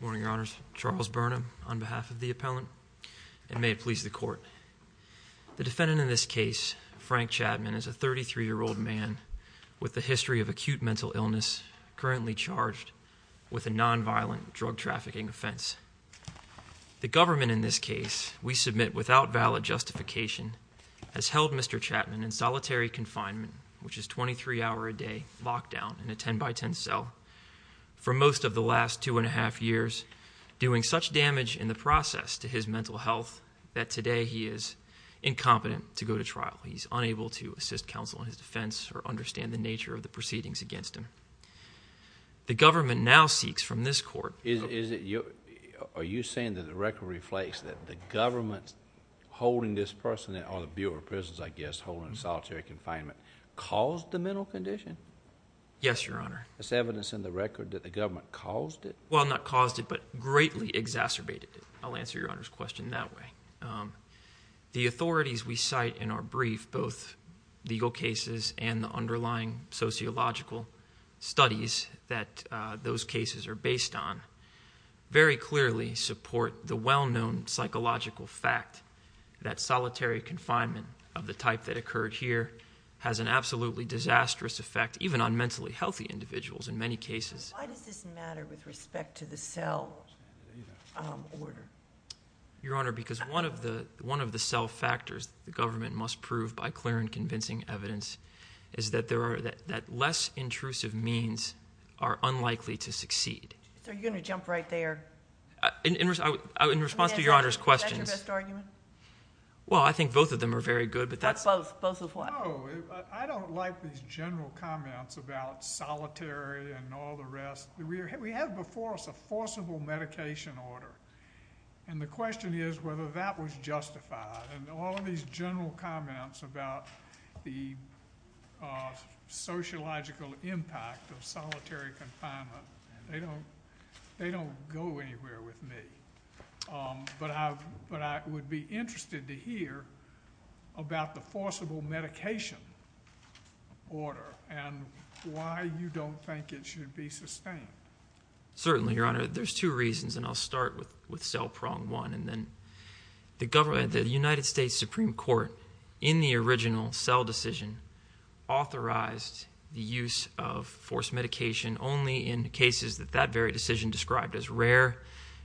Morning, Your Honors. Charles Burnham, on behalf of the appellant, and may it please the Court. The defendant in this case, Frank Chatmon, is a 33-year-old man with a history of acute mental illness, currently charged with a non-violent drug trafficking offense. The government in this case, we submit without valid justification, has held Mr. Chatmon in solitary confinement, which is a 23-hour a day lockdown in a 10-by-10 cell, for most of the last two and a half years, doing such damage in the process to his mental health that today he is incompetent to go to trial. He's unable to assist counsel in his defense or understand the nature of the proceedings against him. The government now seeks from this Court... Is it your... are you saying that the record reflects that the government holding this person in, or the Bureau of Prisons, I guess, holding him in solitary confinement, caused the mental condition? Yes, Your Honor. Is there evidence in the record that the government caused it? Well, not caused it, but greatly exacerbated it. I'll answer Your Honor's question that way. The authorities we cite in our brief, both legal cases and the underlying sociological studies that those cases are based on, very clearly support the well-known psychological fact that solitary confinement of the type that occurred here has an absolutely disastrous effect even on mentally healthy individuals in many cases. Why does this matter with respect to the cell order? Your Honor, because one of the cell factors the government must prove by clear and convincing evidence is that less intrusive means are unlikely to succeed. So are you going to jump right there? In response to Your Honor's questions... Is that your best argument? Well, I think both of them are very good, but that's... What's both? Both of what? No, I don't like these general comments about solitary and all the rest. We have before us a forcible medication order, and the question is whether that was justified. And all of these general comments about the sociological impact of solitary confinement, they don't go anywhere with me. But I would be interested to hear about the forcible medication order and why you don't think it should be sustained. Certainly, Your Honor. There's two reasons, and I'll start with cell prong one. The United States Supreme Court, in the original cell decision, authorized the use of forced medication only in cases that that very decision described as rare,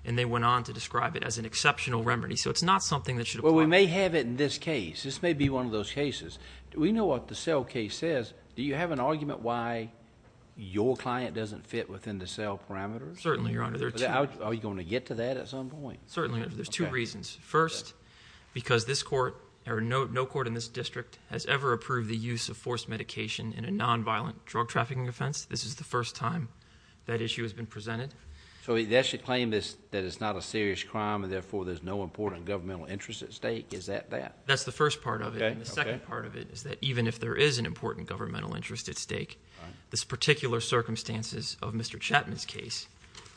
and they went on to describe it as an exceptional remedy. So it's not something that should apply... Well, we may have it in this case. This may be one of those cases. We know what the cell case says. Do you have an argument why your client doesn't fit within the cell parameters? Certainly, Your Honor. There are two... Are you going to get to that at some point? Certainly. There's two reasons. First, because this court, or no court in this district, has ever approved the use of forced medication in a nonviolent drug trafficking offense. This is the first time that issue has been presented. So that should claim that it's not a serious crime, and therefore, there's no important governmental interest at stake? Is that that? That's the first part of it. Okay. And the second part of it is that even if there is an important governmental interest at stake, this particular circumstances of Mr. Chetman's case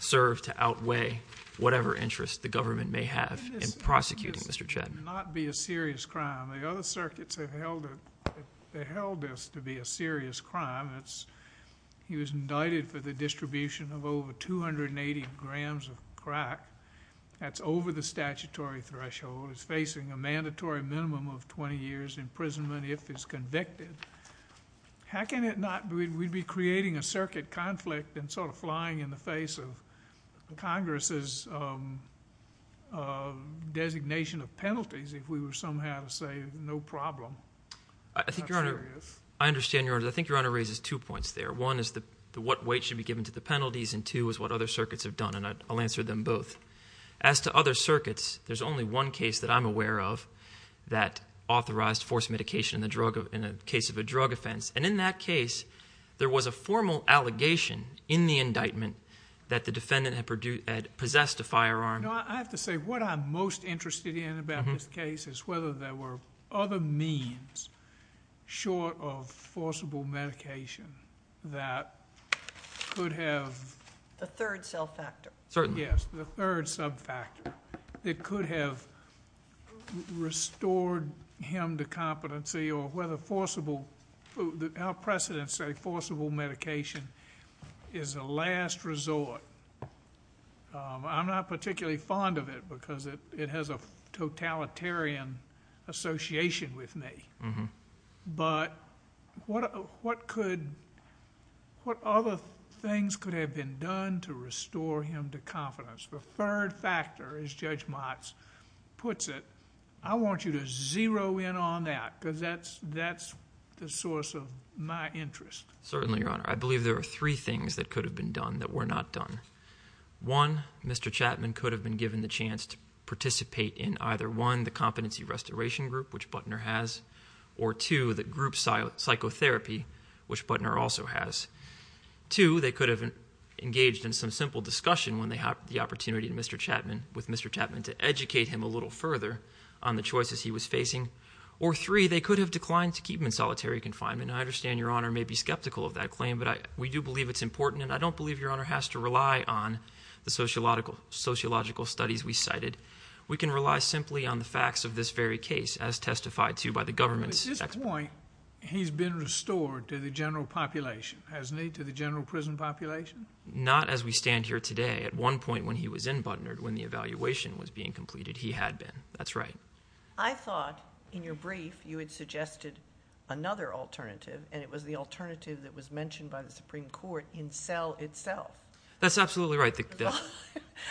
serve to outweigh whatever interest the government may have in prosecuting Mr. Chetman. This would not be a serious crime. The other circuits have held this to be a serious crime. It's... he was indicted for the distribution of over 280 grams of crack. That's over the statutory threshold. He's facing a mandatory minimum of 20 years imprisonment if he's convicted. How can it not... we'd be creating a circuit conflict and sort of flying in the face of Congress' designation of penalties if we were somehow to say, no problem, it's not serious. I understand, Your Honor. I think Your Honor raises two points there. One is what weight should be given to the penalties, and two is what other circuits have done, and I'll answer them both. As to other circuits, there's only one case that I'm aware of that authorized forced medication in the drug... in the case of a drug offense. And in that case, there was a formal allegation in the indictment that the defendant had possessed a firearm. No, I have to say, what I'm most interested in about this case is whether there were other means short of forcible medication that could have... The third self-factor. Yes, the third sub-factor that could have restored him to competency or whether forcible... our precedents say forcible medication is a last resort. I'm not particularly fond of it, because it has a totalitarian association with me. But what could... what other things could have been done to restore him to confidence? The third factor, as Judge Motts puts it, I want you to zero in on that, because that's the source of my interest. Certainly, Your Honor. I believe there are three things that could have been done that were not done. One, Mr. Chapman could have been given the chance to participate in either one, the competency restoration group, which Butner has, or two, the group psychotherapy, which Butner also has. Two, they could have engaged in some simple discussion when they had the opportunity with Mr. Chapman to educate him a little further on the choices he was facing. Or three, they could have declined to keep him in solitary confinement. I understand Your Honor may be skeptical of that claim, but we do believe it's important, and I don't believe Your Honor has to rely on the sociological studies we cited. We can rely simply on the facts of this very case, as testified to by the government's... At this point, he's been restored to the general population, hasn't he, to the general prison population? Not as we stand here today. At one point when he was in Butner, when the evaluation was being completed, he had been. That's right. I thought in your brief you had suggested another alternative, and it was the alternative that was mentioned by the Supreme Court in cell itself. That's absolutely right.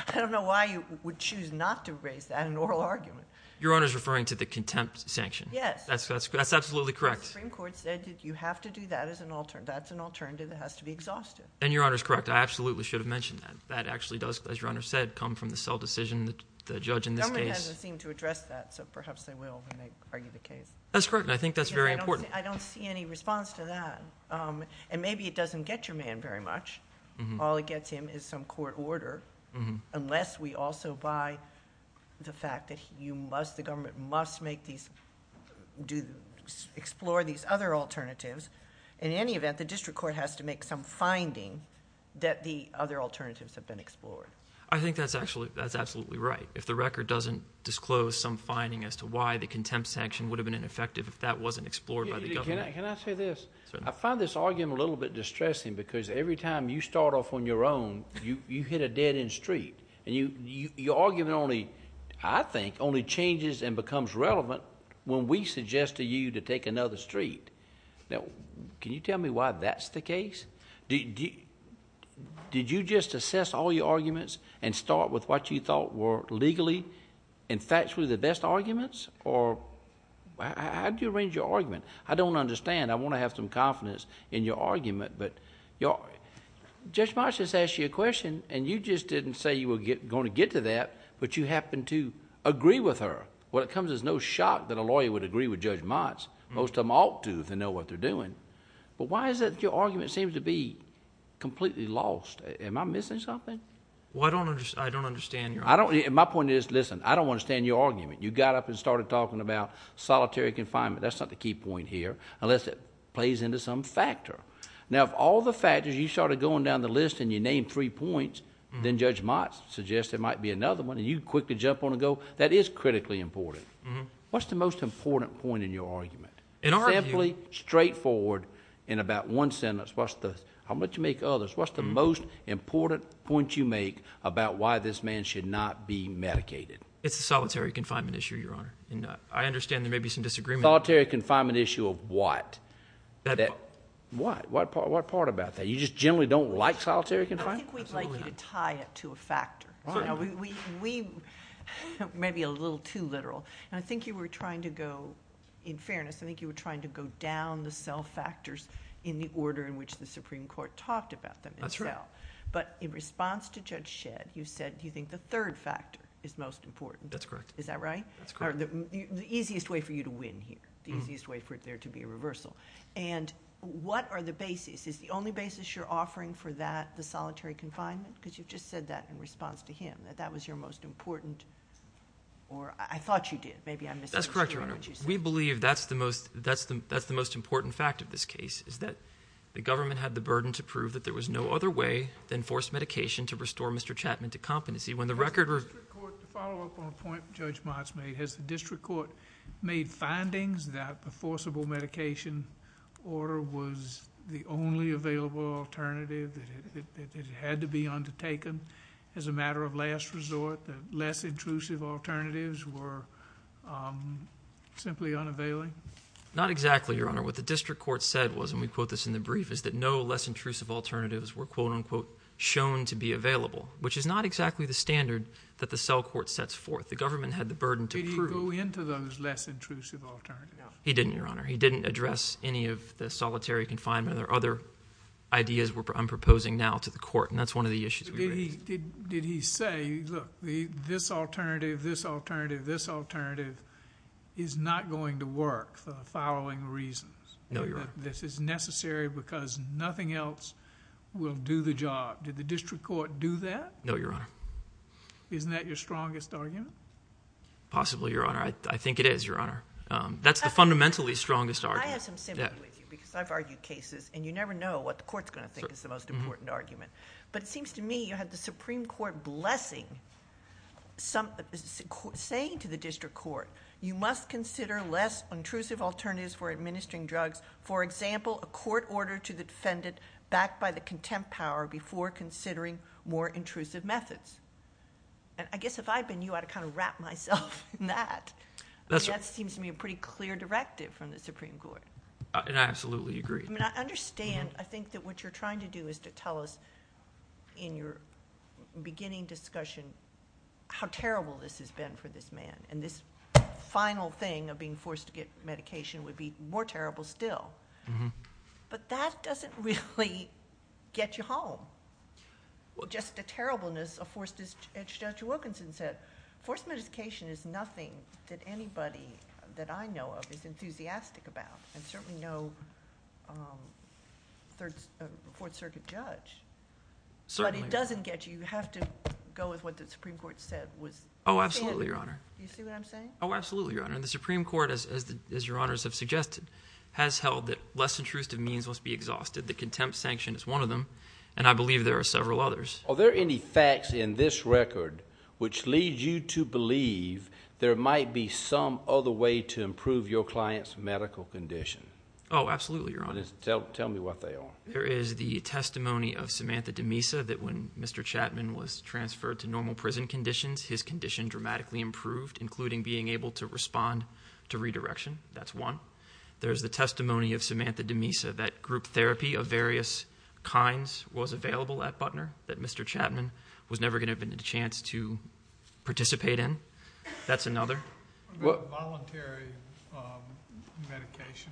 I don't know why you would choose not to raise that in an oral argument. Your Honor's referring to the contempt sanction. Yes. That's absolutely correct. The Supreme Court said you have to do that as an alternative. That's an alternative that has to be exhausted. And Your Honor's correct. I absolutely should have mentioned that. That actually does, as Your Honor said, come from the cell decision, the judge in this case. The government hasn't seemed to address that, so perhaps they will when they argue the case. That's correct, and I think that's very important. I don't see any response to that, and maybe it doesn't get your man very much. All it gets him is some court order, unless we also buy the fact that the government must explore these other alternatives. In any event, the district court has to make some finding that the other alternatives have been explored. I think that's absolutely right. If the record doesn't disclose some finding as to why the government... Can I say this? Certainly. I find this argument a little bit distressing, because every time you start off on your own, you hit a dead-end street. Your argument, I think, only changes and becomes relevant when we suggest to you to take another street. Can you tell me why that's the case? Did you just assess all your arguments and start with what you thought were legally and factually the best arguments, or how did you arrange your argument? I don't understand. I want to have some confidence in your argument, but Judge Motz just asked you a question, and you just didn't say you were going to get to that, but you happened to agree with her. When it comes, there's no shock that a lawyer would agree with Judge Motz. Most of them ought to, if they know what they're doing. Why is it that your argument seems to be completely lost? Am I missing something? I don't understand your argument. My point is, listen, I don't understand your argument. You got up and started talking about solitary confinement. That's not the key point here, unless it plays into some factor. If all the factors, you started going down the list and you named three points, then Judge Motz suggested there might be another one, and you quickly jump on and go, that is critically important. What's the most important point in your argument? Simply, straightforward, in about one sentence, how much you make others, what's the most important point you make about why this man should not be medicated? It's a solitary confinement issue, Your Honor. I understand there may be some disagreement. Solitary confinement issue of what? What part about that? You just generally don't like solitary confinement? I think we'd like you to tie it to a factor. Maybe a little too literal. I think you were trying to go, in fairness, I think you were trying to go down the cell factors in the That's right. but in response to Judge Shedd, you said you think the third factor is most important. That's correct. Is that right? That's correct. The easiest way for you to win here, the easiest way for there to be a reversal. What are the bases? Is the only basis you're offering for that the solitary confinement? Because you've just said that in response to him, that that was your most important... or I thought you did. Maybe I'm misinterpreting what you said. That's correct, Your Honor. We believe that's the most important fact of this case, is that the government had the burden to prove that there was no other way than forced medication to restore Mr. Chapman to competency. When the record... To follow up on a point Judge Mott's made, has the district court made findings that the forcible medication order was the only available alternative that had to be undertaken as a matter of last resort, that less intrusive alternatives were simply unavailable? Not exactly, Your Honor. What the district court said was, and we quote this in the brief, is that no less intrusive alternatives were, quote-unquote, shown to be available, which is not exactly the standard that the cell court sets forth. The government had the burden to prove... Did he go into those less intrusive alternatives? No, he didn't, Your Honor. He didn't address any of the solitary confinement or other ideas I'm proposing now to the court, and that's one of the issues we raised. Did he say, look, this alternative, this alternative, this alternative is not going to work for the following reasons... No, Your Honor.... that this is necessary because nothing else will do the job. Did the district court do that? No, Your Honor. Isn't that your strongest argument? Possibly, Your Honor. I think it is, Your Honor. That's the fundamentally strongest argument. I have some sympathy with you, because I've argued cases, and you never know what the court's going to think is the most important argument. But it seems to me you had the Supreme Court blessing, saying to the district court, you must consider less intrusive alternatives for administering drugs. For example, a court order to the defendant backed by the contempt power before considering more intrusive methods. I guess if I'd been you, I'd have kind of wrapped myself in that. That seems to me a pretty clear directive from the Supreme Court. I absolutely agree. I mean, I understand. I think that what you're trying to do is to tell us in your beginning discussion how terrible this has been for this man, and this final thing of being forced to get medication would be more terrible still. But that doesn't really get you home. Just the terribleness of... as Judge Wilkinson said, forced medication is nothing that anybody that I know of is enthusiastic about, and certainly no Fourth Circuit judge. Certainly. But that doesn't get you. You have to go with what the Supreme Court said was... Oh, absolutely, Your Honor. You see what I'm saying? Oh, absolutely, Your Honor. The Supreme Court, as Your Honors have suggested, has held that less intrusive means must be exhausted. The contempt sanction is one of them, and I believe there are several others. Are there any facts in this record which lead you to believe there might be some other way to improve your client's medical condition? Oh, absolutely, Your Honor. Tell me what they are. There is the testimony of Samantha DeMesa that when Mr. Chapman was transferred to normal prison conditions, his condition dramatically improved, including being able to respond to redirection. That's one. There's the testimony of Samantha DeMesa that group therapy of various kinds was available at Butner that Mr. Chapman was never going to have had a chance to participate in. That's another. What about voluntary medication?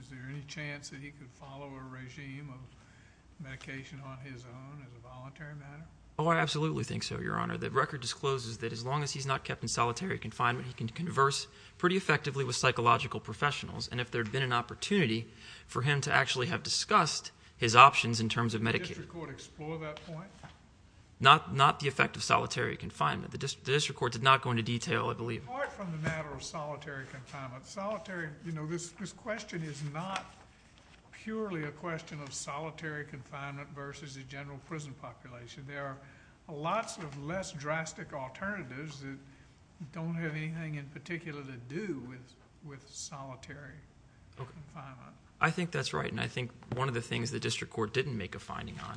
Is there any chance that he could follow a regime of medication on his own as a voluntary matter? Oh, I absolutely think so, Your Honor. The record discloses that as long as he's not kept in solitary confinement, he can converse pretty effectively with psychological professionals, and if there had been an opportunity for him to actually have discussed his options in terms of medicating... Did the district court explore that point? Not the effect of solitary confinement. The district court did not go into detail, I believe. Apart from the matter of solitary confinement, this question is not purely a question of solitary confinement versus the general prison population. There are lots of less drastic alternatives that don't have anything in particular to do with solitary confinement. I think that's right, and I think one of the things the district court didn't make a finding on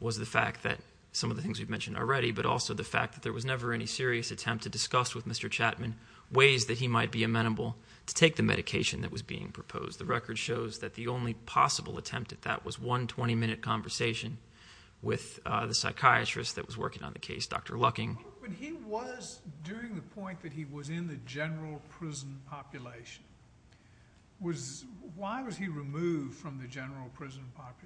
was the fact that some of the things we've mentioned already, but also the fact that there was never any serious attempt to discuss with Mr. Chapman ways that he might be amenable to take the medication that was being proposed. The record shows that the only possible attempt at that was one 20-minute conversation with the psychiatrist that was working on the case, Dr. Lucking. But he was, during the point that he was in the general prison population, was... why was he removed from the general prison population?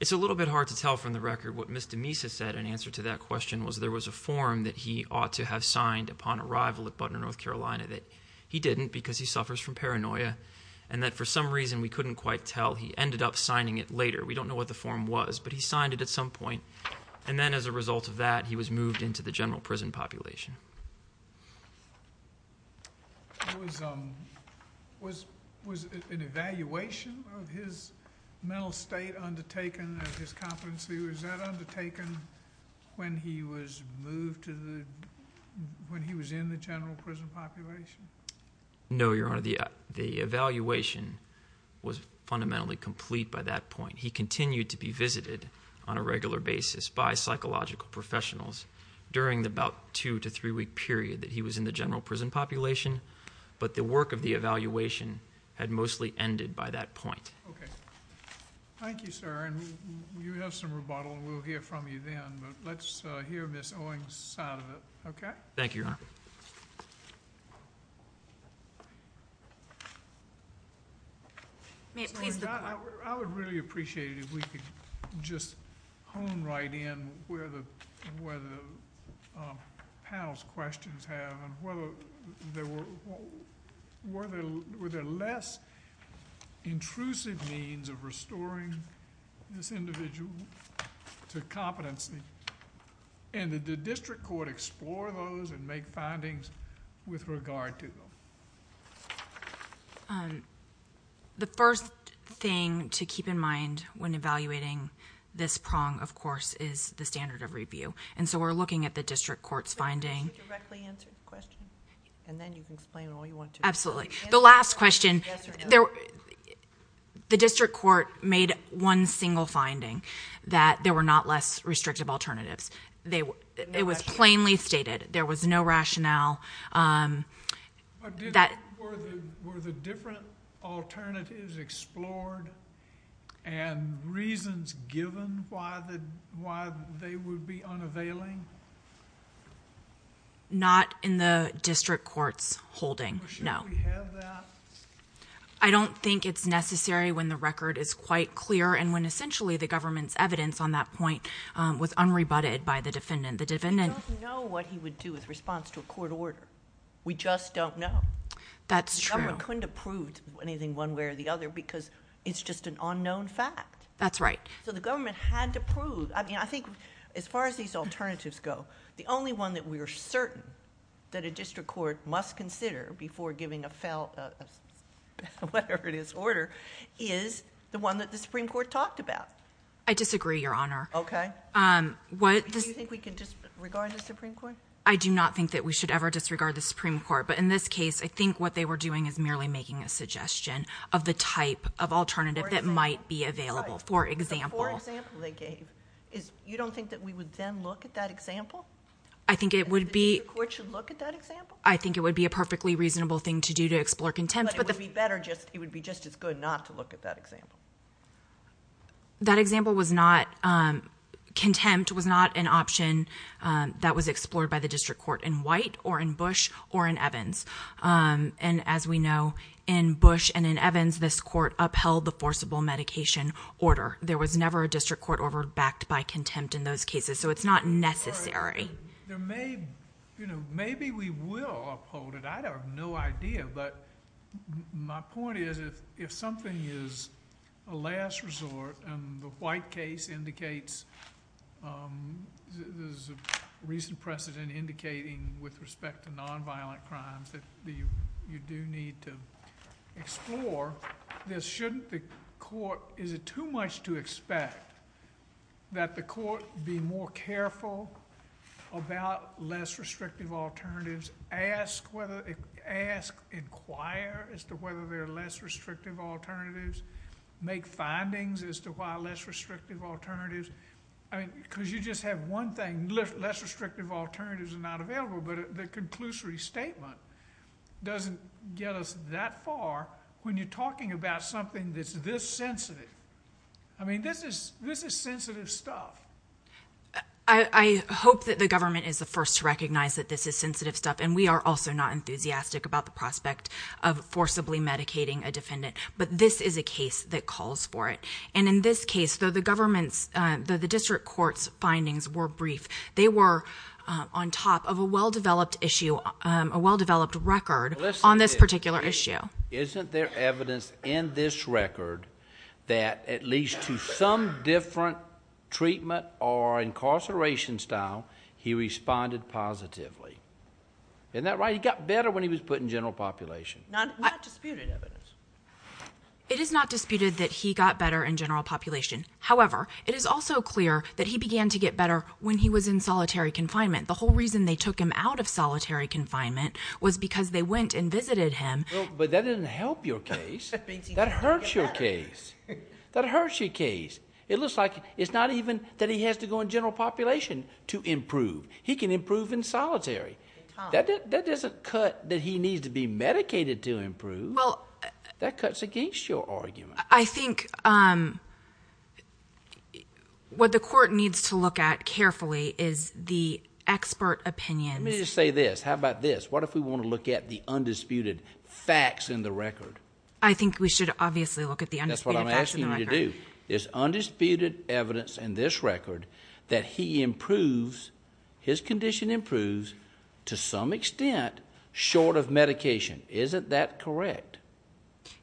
It's a little bit hard to tell from the record. What Ms. DeMesa said in answer to that question was there was a form that he ought to have signed upon arrival at Butner, North Carolina, that he didn't because he suffers from paranoia, and that for some reason, we couldn't quite tell, he ended up signing it later. We don't know what the form was, but he signed it at some point, and then as a result of that, he was moved into the general prison population. Was an evaluation of his mental state undertaken of his competency? Was that undertaken when he was moved to the... when he was in the general prison population? No, Your Honor. The evaluation was fundamentally complete by that point. He continued to be visited on a regular basis by psychological professionals during the about two to three week period that he was in the general prison population, but the work of the evaluation had mostly ended by that point. Okay. Thank you, sir. And you have some rebuttal, and we'll hear from you then, but let's hear Ms. Owing's side of it, okay? Thank you, Your Honor. I would really appreciate it if we could just hone right in where the panel's questions have, and were there less intrusive means of restoring this individual to competency, and did the district court explore those and make findings with regard to them? The first thing to keep in mind when evaluating this prong, of course, is the standard of review, and so we're looking at the district court's finding... Can you directly answer the question, and then you can explain all you want to? Absolutely. The last question... Yes or no? The district court made one single finding, that there were not less restrictive alternatives. It was plainly stated. There was no rationale. Were the different alternatives explored and reasons given why they would be unavailing? Not in the district court's holding, no. Should we have that? I don't think it's necessary when the record is quite clear, and when essentially the government's evidence on that point was unrebutted by the defendant. The defendant... We don't know what he would do with response to a court order. We just don't know. That's true. The government couldn't have proved anything one way or the other, because it's just an unknown fact. That's right. So the government had to prove... I mean, I think as far as these alternatives go, the only one that we are certain that a district court must consider before giving a whatever-it-is order is the one that the Supreme Court talked about. I disagree, Your Honor. Okay. Do you think we can disregard the Supreme Court? I do not think that we should ever disregard the Supreme Court, but in this case, I think what they were doing is merely making a suggestion of the type of alternative that might be available for example. You don't think that we would then look at that example? I think it would be... And the district court should look at that example? I think it would be a perfectly reasonable thing to do to explore contempt. But it would be just as good not to look at that example. That example was not... Contempt was not an option that was explored by the district court in White or in Bush or in Evans. And as we know, in Bush and in Evans, this court upheld the forcible medication order. There was never a district court order backed by contempt in those cases, so it's not necessary. Maybe we will uphold it. I have no idea. But my point is if something is a last resort and the White case indicates there's a recent precedent indicating with respect to nonviolent crimes that you do need to explore, then shouldn't the court... Is it too much to expect that the court be more careful about less restrictive alternatives, ask, inquire as to whether there are less restrictive alternatives, make findings as to why less restrictive alternatives... I mean, because you just have one thing. Less restrictive alternatives are not available, but the conclusory statement doesn't get us that far when you're talking about something that's this sensitive. I mean, this is sensitive stuff. I hope that the government is the first to recognize that this is sensitive stuff, and we are also not enthusiastic about the prospect of forcibly medicating a defendant, but this is a case that calls for it. And in this case, though the government's... though the district court's findings were brief, they were on top of a well-developed issue, a well-developed record on this particular issue. Isn't there evidence in this record that at least to some different treatment or incarceration style he responded positively? Isn't that right? He got better when he was put in general population. Not disputed. It is not disputed that he got better in general population. However, it is also clear that he began to get better when he was in solitary confinement. The whole reason they took him out of solitary confinement was because they went and visited him. But that doesn't help your case. That hurts your case. That hurts your case. It looks like it's not even that he has to go in general population to improve. He can improve in solitary. That doesn't cut that he needs to be medicated to improve. That cuts against your argument. I think what the court needs to look at carefully is the expert opinion. Let me just say this. How about this? What if we want to look at the undisputed facts in the record? I think we should obviously look at the undisputed facts in the record. That's what I'm asking you to do. There's undisputed evidence in this record that he improves, his condition improves to some extent short of medication. Isn't that correct?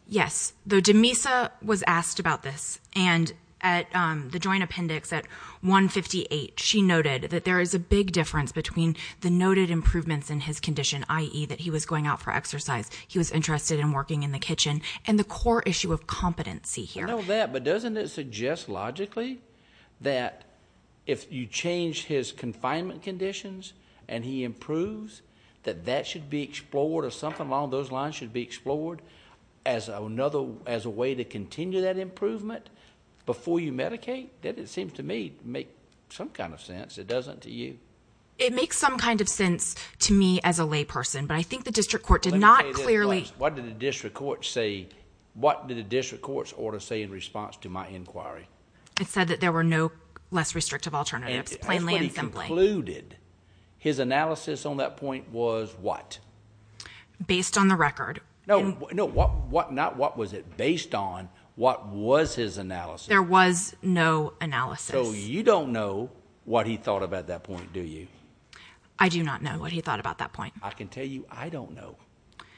Yes. Demisa was asked about this, and at the joint appendix at 158, she noted that there is a big difference between the noted improvements in his condition, i.e., that he was going out for exercise, he was interested in working in the kitchen, and the core issue of competency here. I know that, but doesn't it suggest logically that if you change his confinement conditions and he improves, that that should be explored or something along those lines should be explored as a way to continue that improvement before you medicate? That, it seems to me, makes some kind of sense. It doesn't to you? It makes some kind of sense to me as a layperson, but I think the district court did not clearly... Let me say this. What did the district court say? What did the district court's order say in response to my inquiry? It said that there were no less restrictive alternatives, plainly and simply. That's what he concluded. His analysis on that point was what? Based on the record. No. Not what was it based on. What was his analysis? There was no analysis. So you don't know what he thought about that point, do you? I do not know what he thought about that point. I can tell you I don't know.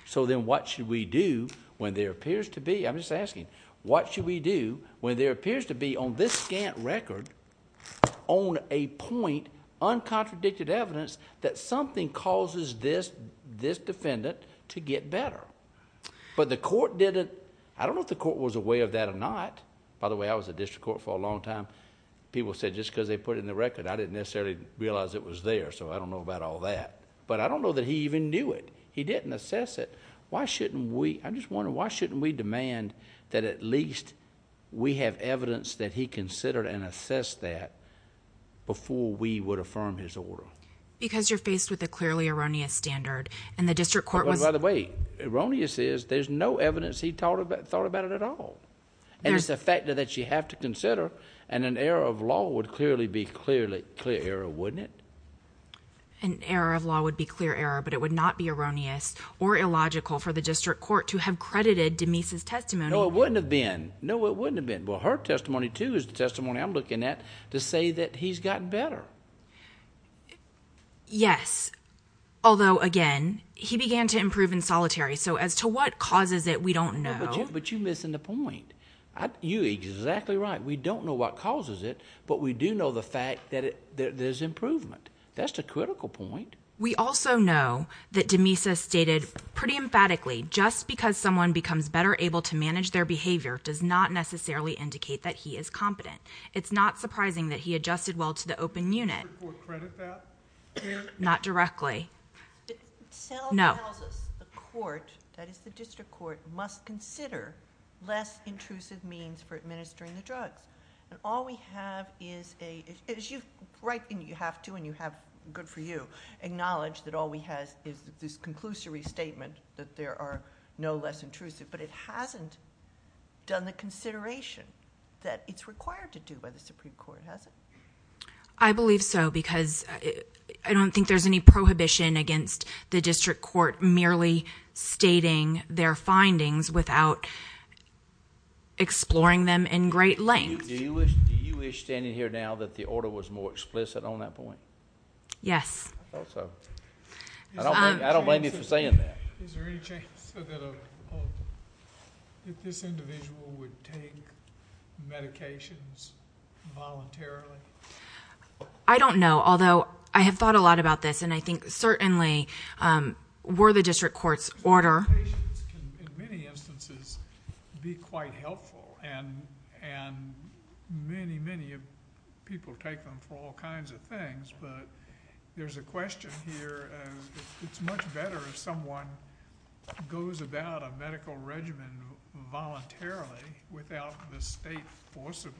So then what should we do when there appears to be... I'm just asking. What should we do when there appears to be on this scant record, on a point, uncontradicted evidence that something causes this defendant to get better? But the court didn't... I don't know if the court was aware of that or not. By the way, I was at district court for a long time. People said just because they put it in the record. I didn't necessarily realize it was there, so I don't know about all that. But I don't know that he even knew it. He didn't assess it. I'm just wondering, why shouldn't we demand that at least we have evidence that he considered and assessed that before we would affirm his order? Because you're faced with a clearly erroneous standard, and the district court was... By the way, erroneous is there's no evidence he thought about it at all. And it's a factor that you have to consider, and an error of law would clearly be clear error, wouldn't it? An error of law would be clear error, but it would not be erroneous or illogical for the district court to have credited Demese's testimony... No, it wouldn't have been. No, it wouldn't have been. Well, her testimony, too, is the testimony I'm looking at to say that he's gotten better. Yes, although, again, he began to improve in solitary. So as to what causes it, we don't know. But you're missing the point. You're exactly right. We don't know what causes it, but we do know the fact that there's improvement. That's the critical point. We also know that Demese has stated pretty emphatically, just because someone becomes better able to manage their behavior does not necessarily indicate that he is competent. It's not surprising that he adjusted well to the open unit. Did the district court credit that? Not directly. No. It tells us the court, that is the district court, must consider less intrusive means for administering the drugs. And all we have is a... You have to, and good for you, acknowledge that all we have is this conclusory statement that there are no less intrusive. But it hasn't done the consideration that it's required to do by the Supreme Court, has it? I believe so, because I don't think there's any prohibition against the district court merely stating their findings without exploring them in great length. Do you wish, standing here now, that the order was more explicit on that point? Yes. I thought so. I don't blame you for saying that. Is there any chance that this individual would take medications voluntarily? I don't know, although I have thought a lot about this, and I think certainly were the district court's order... Medications can, in many instances, be quite helpful, and many, many people take them for all kinds of things. But there's a question here. It's much better if someone goes about a medical regimen voluntarily without the state forcibly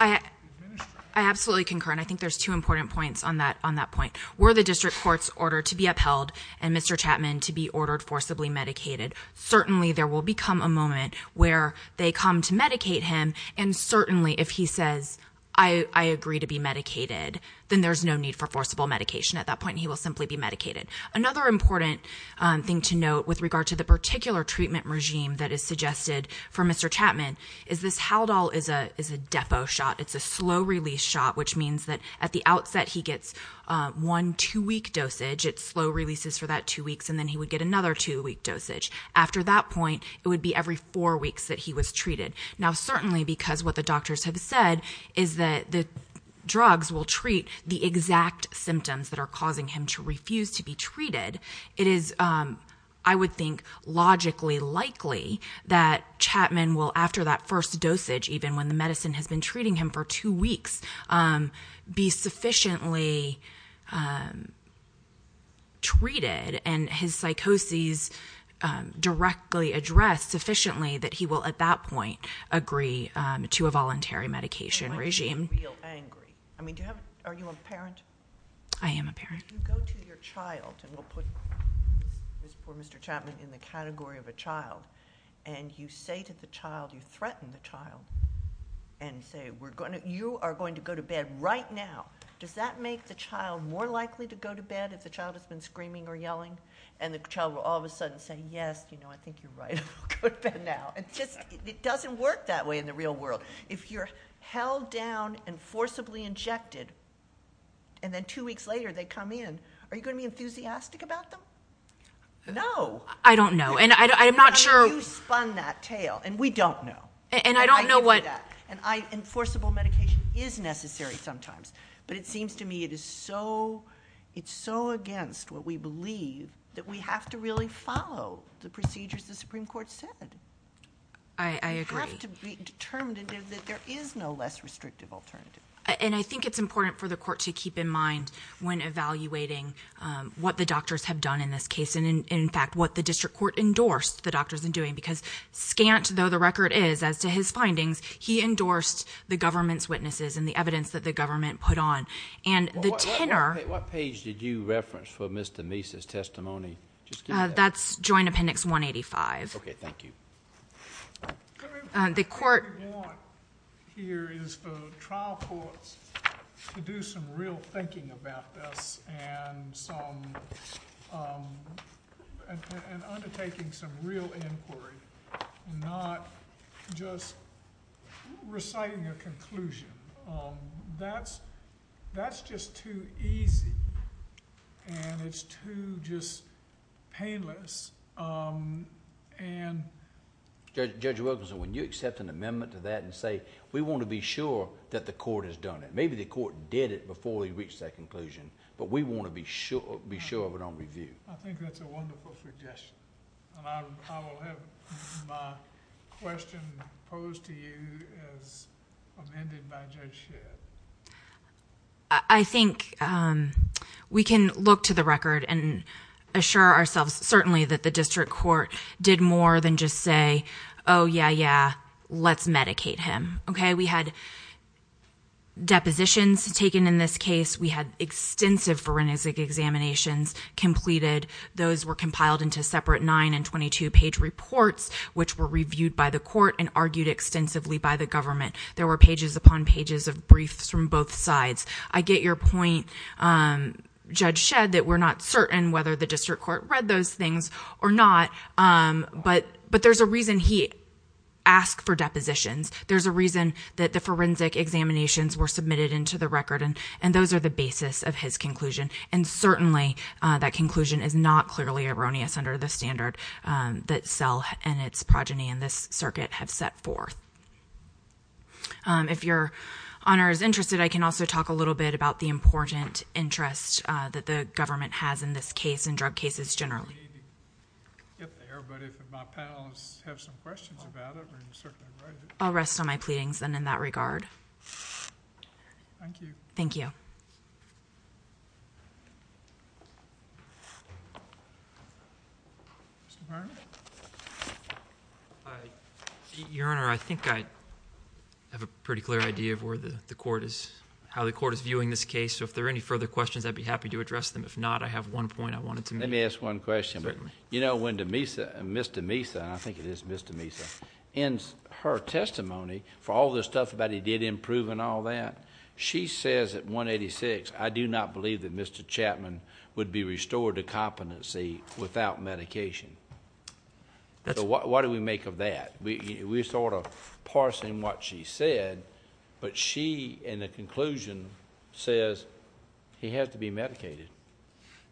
administering it. I absolutely concur, and I think there's two important points on that point. Were the district court's order to be upheld and Mr. Chapman to be ordered forcibly medicated, certainly there will become a moment where they come to medicate him, and certainly if he says, I agree to be medicated, then there's no need for forcible medication at that point. He will simply be medicated. Another important thing to note with regard to the particular treatment regime that is suggested for Mr. Chapman is this Haldol is a depo shot. It's a slow-release shot, which means that at the outset he gets one two-week dosage. It's slow releases for that two weeks, and then he would get another two-week dosage. After that point, it would be every four weeks that he was treated. Now, certainly because what the doctors have said is that the drugs will treat the exact symptoms that are causing him to refuse to be treated, it is, I would think, logically likely that Chapman will, after that first dosage, even when the medicine has been treating him for two weeks, be sufficiently treated and his psychoses directly addressed sufficiently that he will, at that point, agree to a voluntary medication regime. Are you a parent? I am a parent. You go to your child, and we'll put this poor Mr. Chapman in the category of a child, and you say to the child, you threaten the child and say, you are going to go to bed right now. Does that make the child more likely to go to bed if the child has been screaming or yelling, and the child will all of a sudden say, yes, I think you're right, I'll go to bed now? It doesn't work that way in the real world. If you're held down and forcibly injected, and then two weeks later they come in, are you going to be enthusiastic about them? No. I don't know, and I'm not sure. You spun that tale, and we don't know. And I don't know what. Enforceable medication is necessary sometimes, but it seems to me it's so against what we believe that we have to really follow the procedures the Supreme Court said. I agree. We have to be determined that there is no less restrictive alternative. And I think it's important for the court to keep in mind when evaluating what the doctors have done in this case, and, in fact, what the district court endorsed the doctors in doing, because, scant though the record is as to his findings, he endorsed the government's witnesses and the evidence that the government put on. And the tenor- What page did you reference for Mr. Meese's testimony? That's Joint Appendix 185. Okay, thank you. What we want here is for trial courts to do some real thinking about this and undertaking some real inquiry, not just reciting a conclusion. That's just too easy, and it's too just painless. Judge Wilkinson, when you accept an amendment to that and say, we want to be sure that the court has done it, maybe the court did it before they reached that conclusion, but we want to be sure of it on review. I think that's a wonderful suggestion, and I will have my question posed to you as amended by Judge Shedd. I think we can look to the record and assure ourselves, certainly, that the district court did more than just say, oh, yeah, yeah, let's medicate him. We had depositions taken in this case. We had extensive forensic examinations completed. Those were compiled into separate 9- and 22-page reports, which were reviewed by the court and argued extensively by the government. There were pages upon pages of briefs from both sides. I get your point, Judge Shedd, that we're not certain whether the district court read those things or not, but there's a reason he asked for depositions. There's a reason that the forensic examinations were submitted into the record, and those are the basis of his conclusion, and certainly that conclusion is not clearly erroneous under the standard that SELL and its progeny in this circuit have set forth. If your honor is interested, I can also talk a little bit about the important interest that the government has in this case and drug cases generally. We need to get there, but if my panelists have some questions about it, we can certainly write it. I'll rest on my pleadings, then, in that regard. Thank you. Thank you. Your Honor? Your Honor, I think I have a pretty clear idea of how the court is viewing this case, so if there are any further questions, I'd be happy to address them. If not, I have one point I wanted to make. Let me ask one question. Certainly. You know, when Mr. Mesa, I think it is Mr. Mesa, in her testimony for all the stuff about he did improve and all that, she says at 186, I do not believe that Mr. Chapman would be restored to competency without medication. So what do we make of that? We sort of parse in what she said, but she, in the conclusion, says he has to be medicated.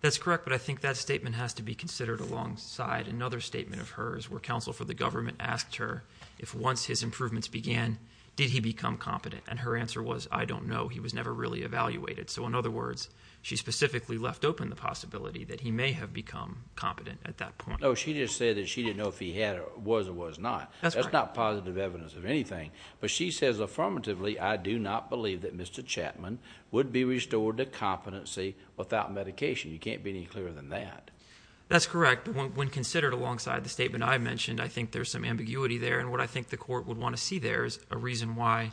That's correct, but I think that statement has to be considered alongside another statement of hers where counsel for the government asked her if once his improvements began, did he become competent, and her answer was, I don't know. He was never really evaluated. So, in other words, she specifically left open the possibility that he may have become competent at that point. No, she just said that she didn't know if he was or was not. That's correct. That's not positive evidence of anything, but she says affirmatively, I do not believe that Mr. Chapman would be restored to competency without medication. You can't be any clearer than that. That's correct, but when considered alongside the statement I mentioned, I think there's some ambiguity there, and what I think the court would want to see there is a reason why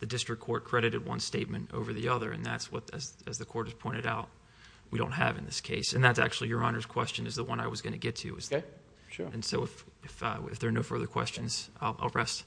the district court credited one statement over the other, and that's what, as the court has pointed out, we don't have in this case. And that's actually Your Honor's question, is the one I was going to get to. Okay, sure. And so if there are no further questions, I'll rest.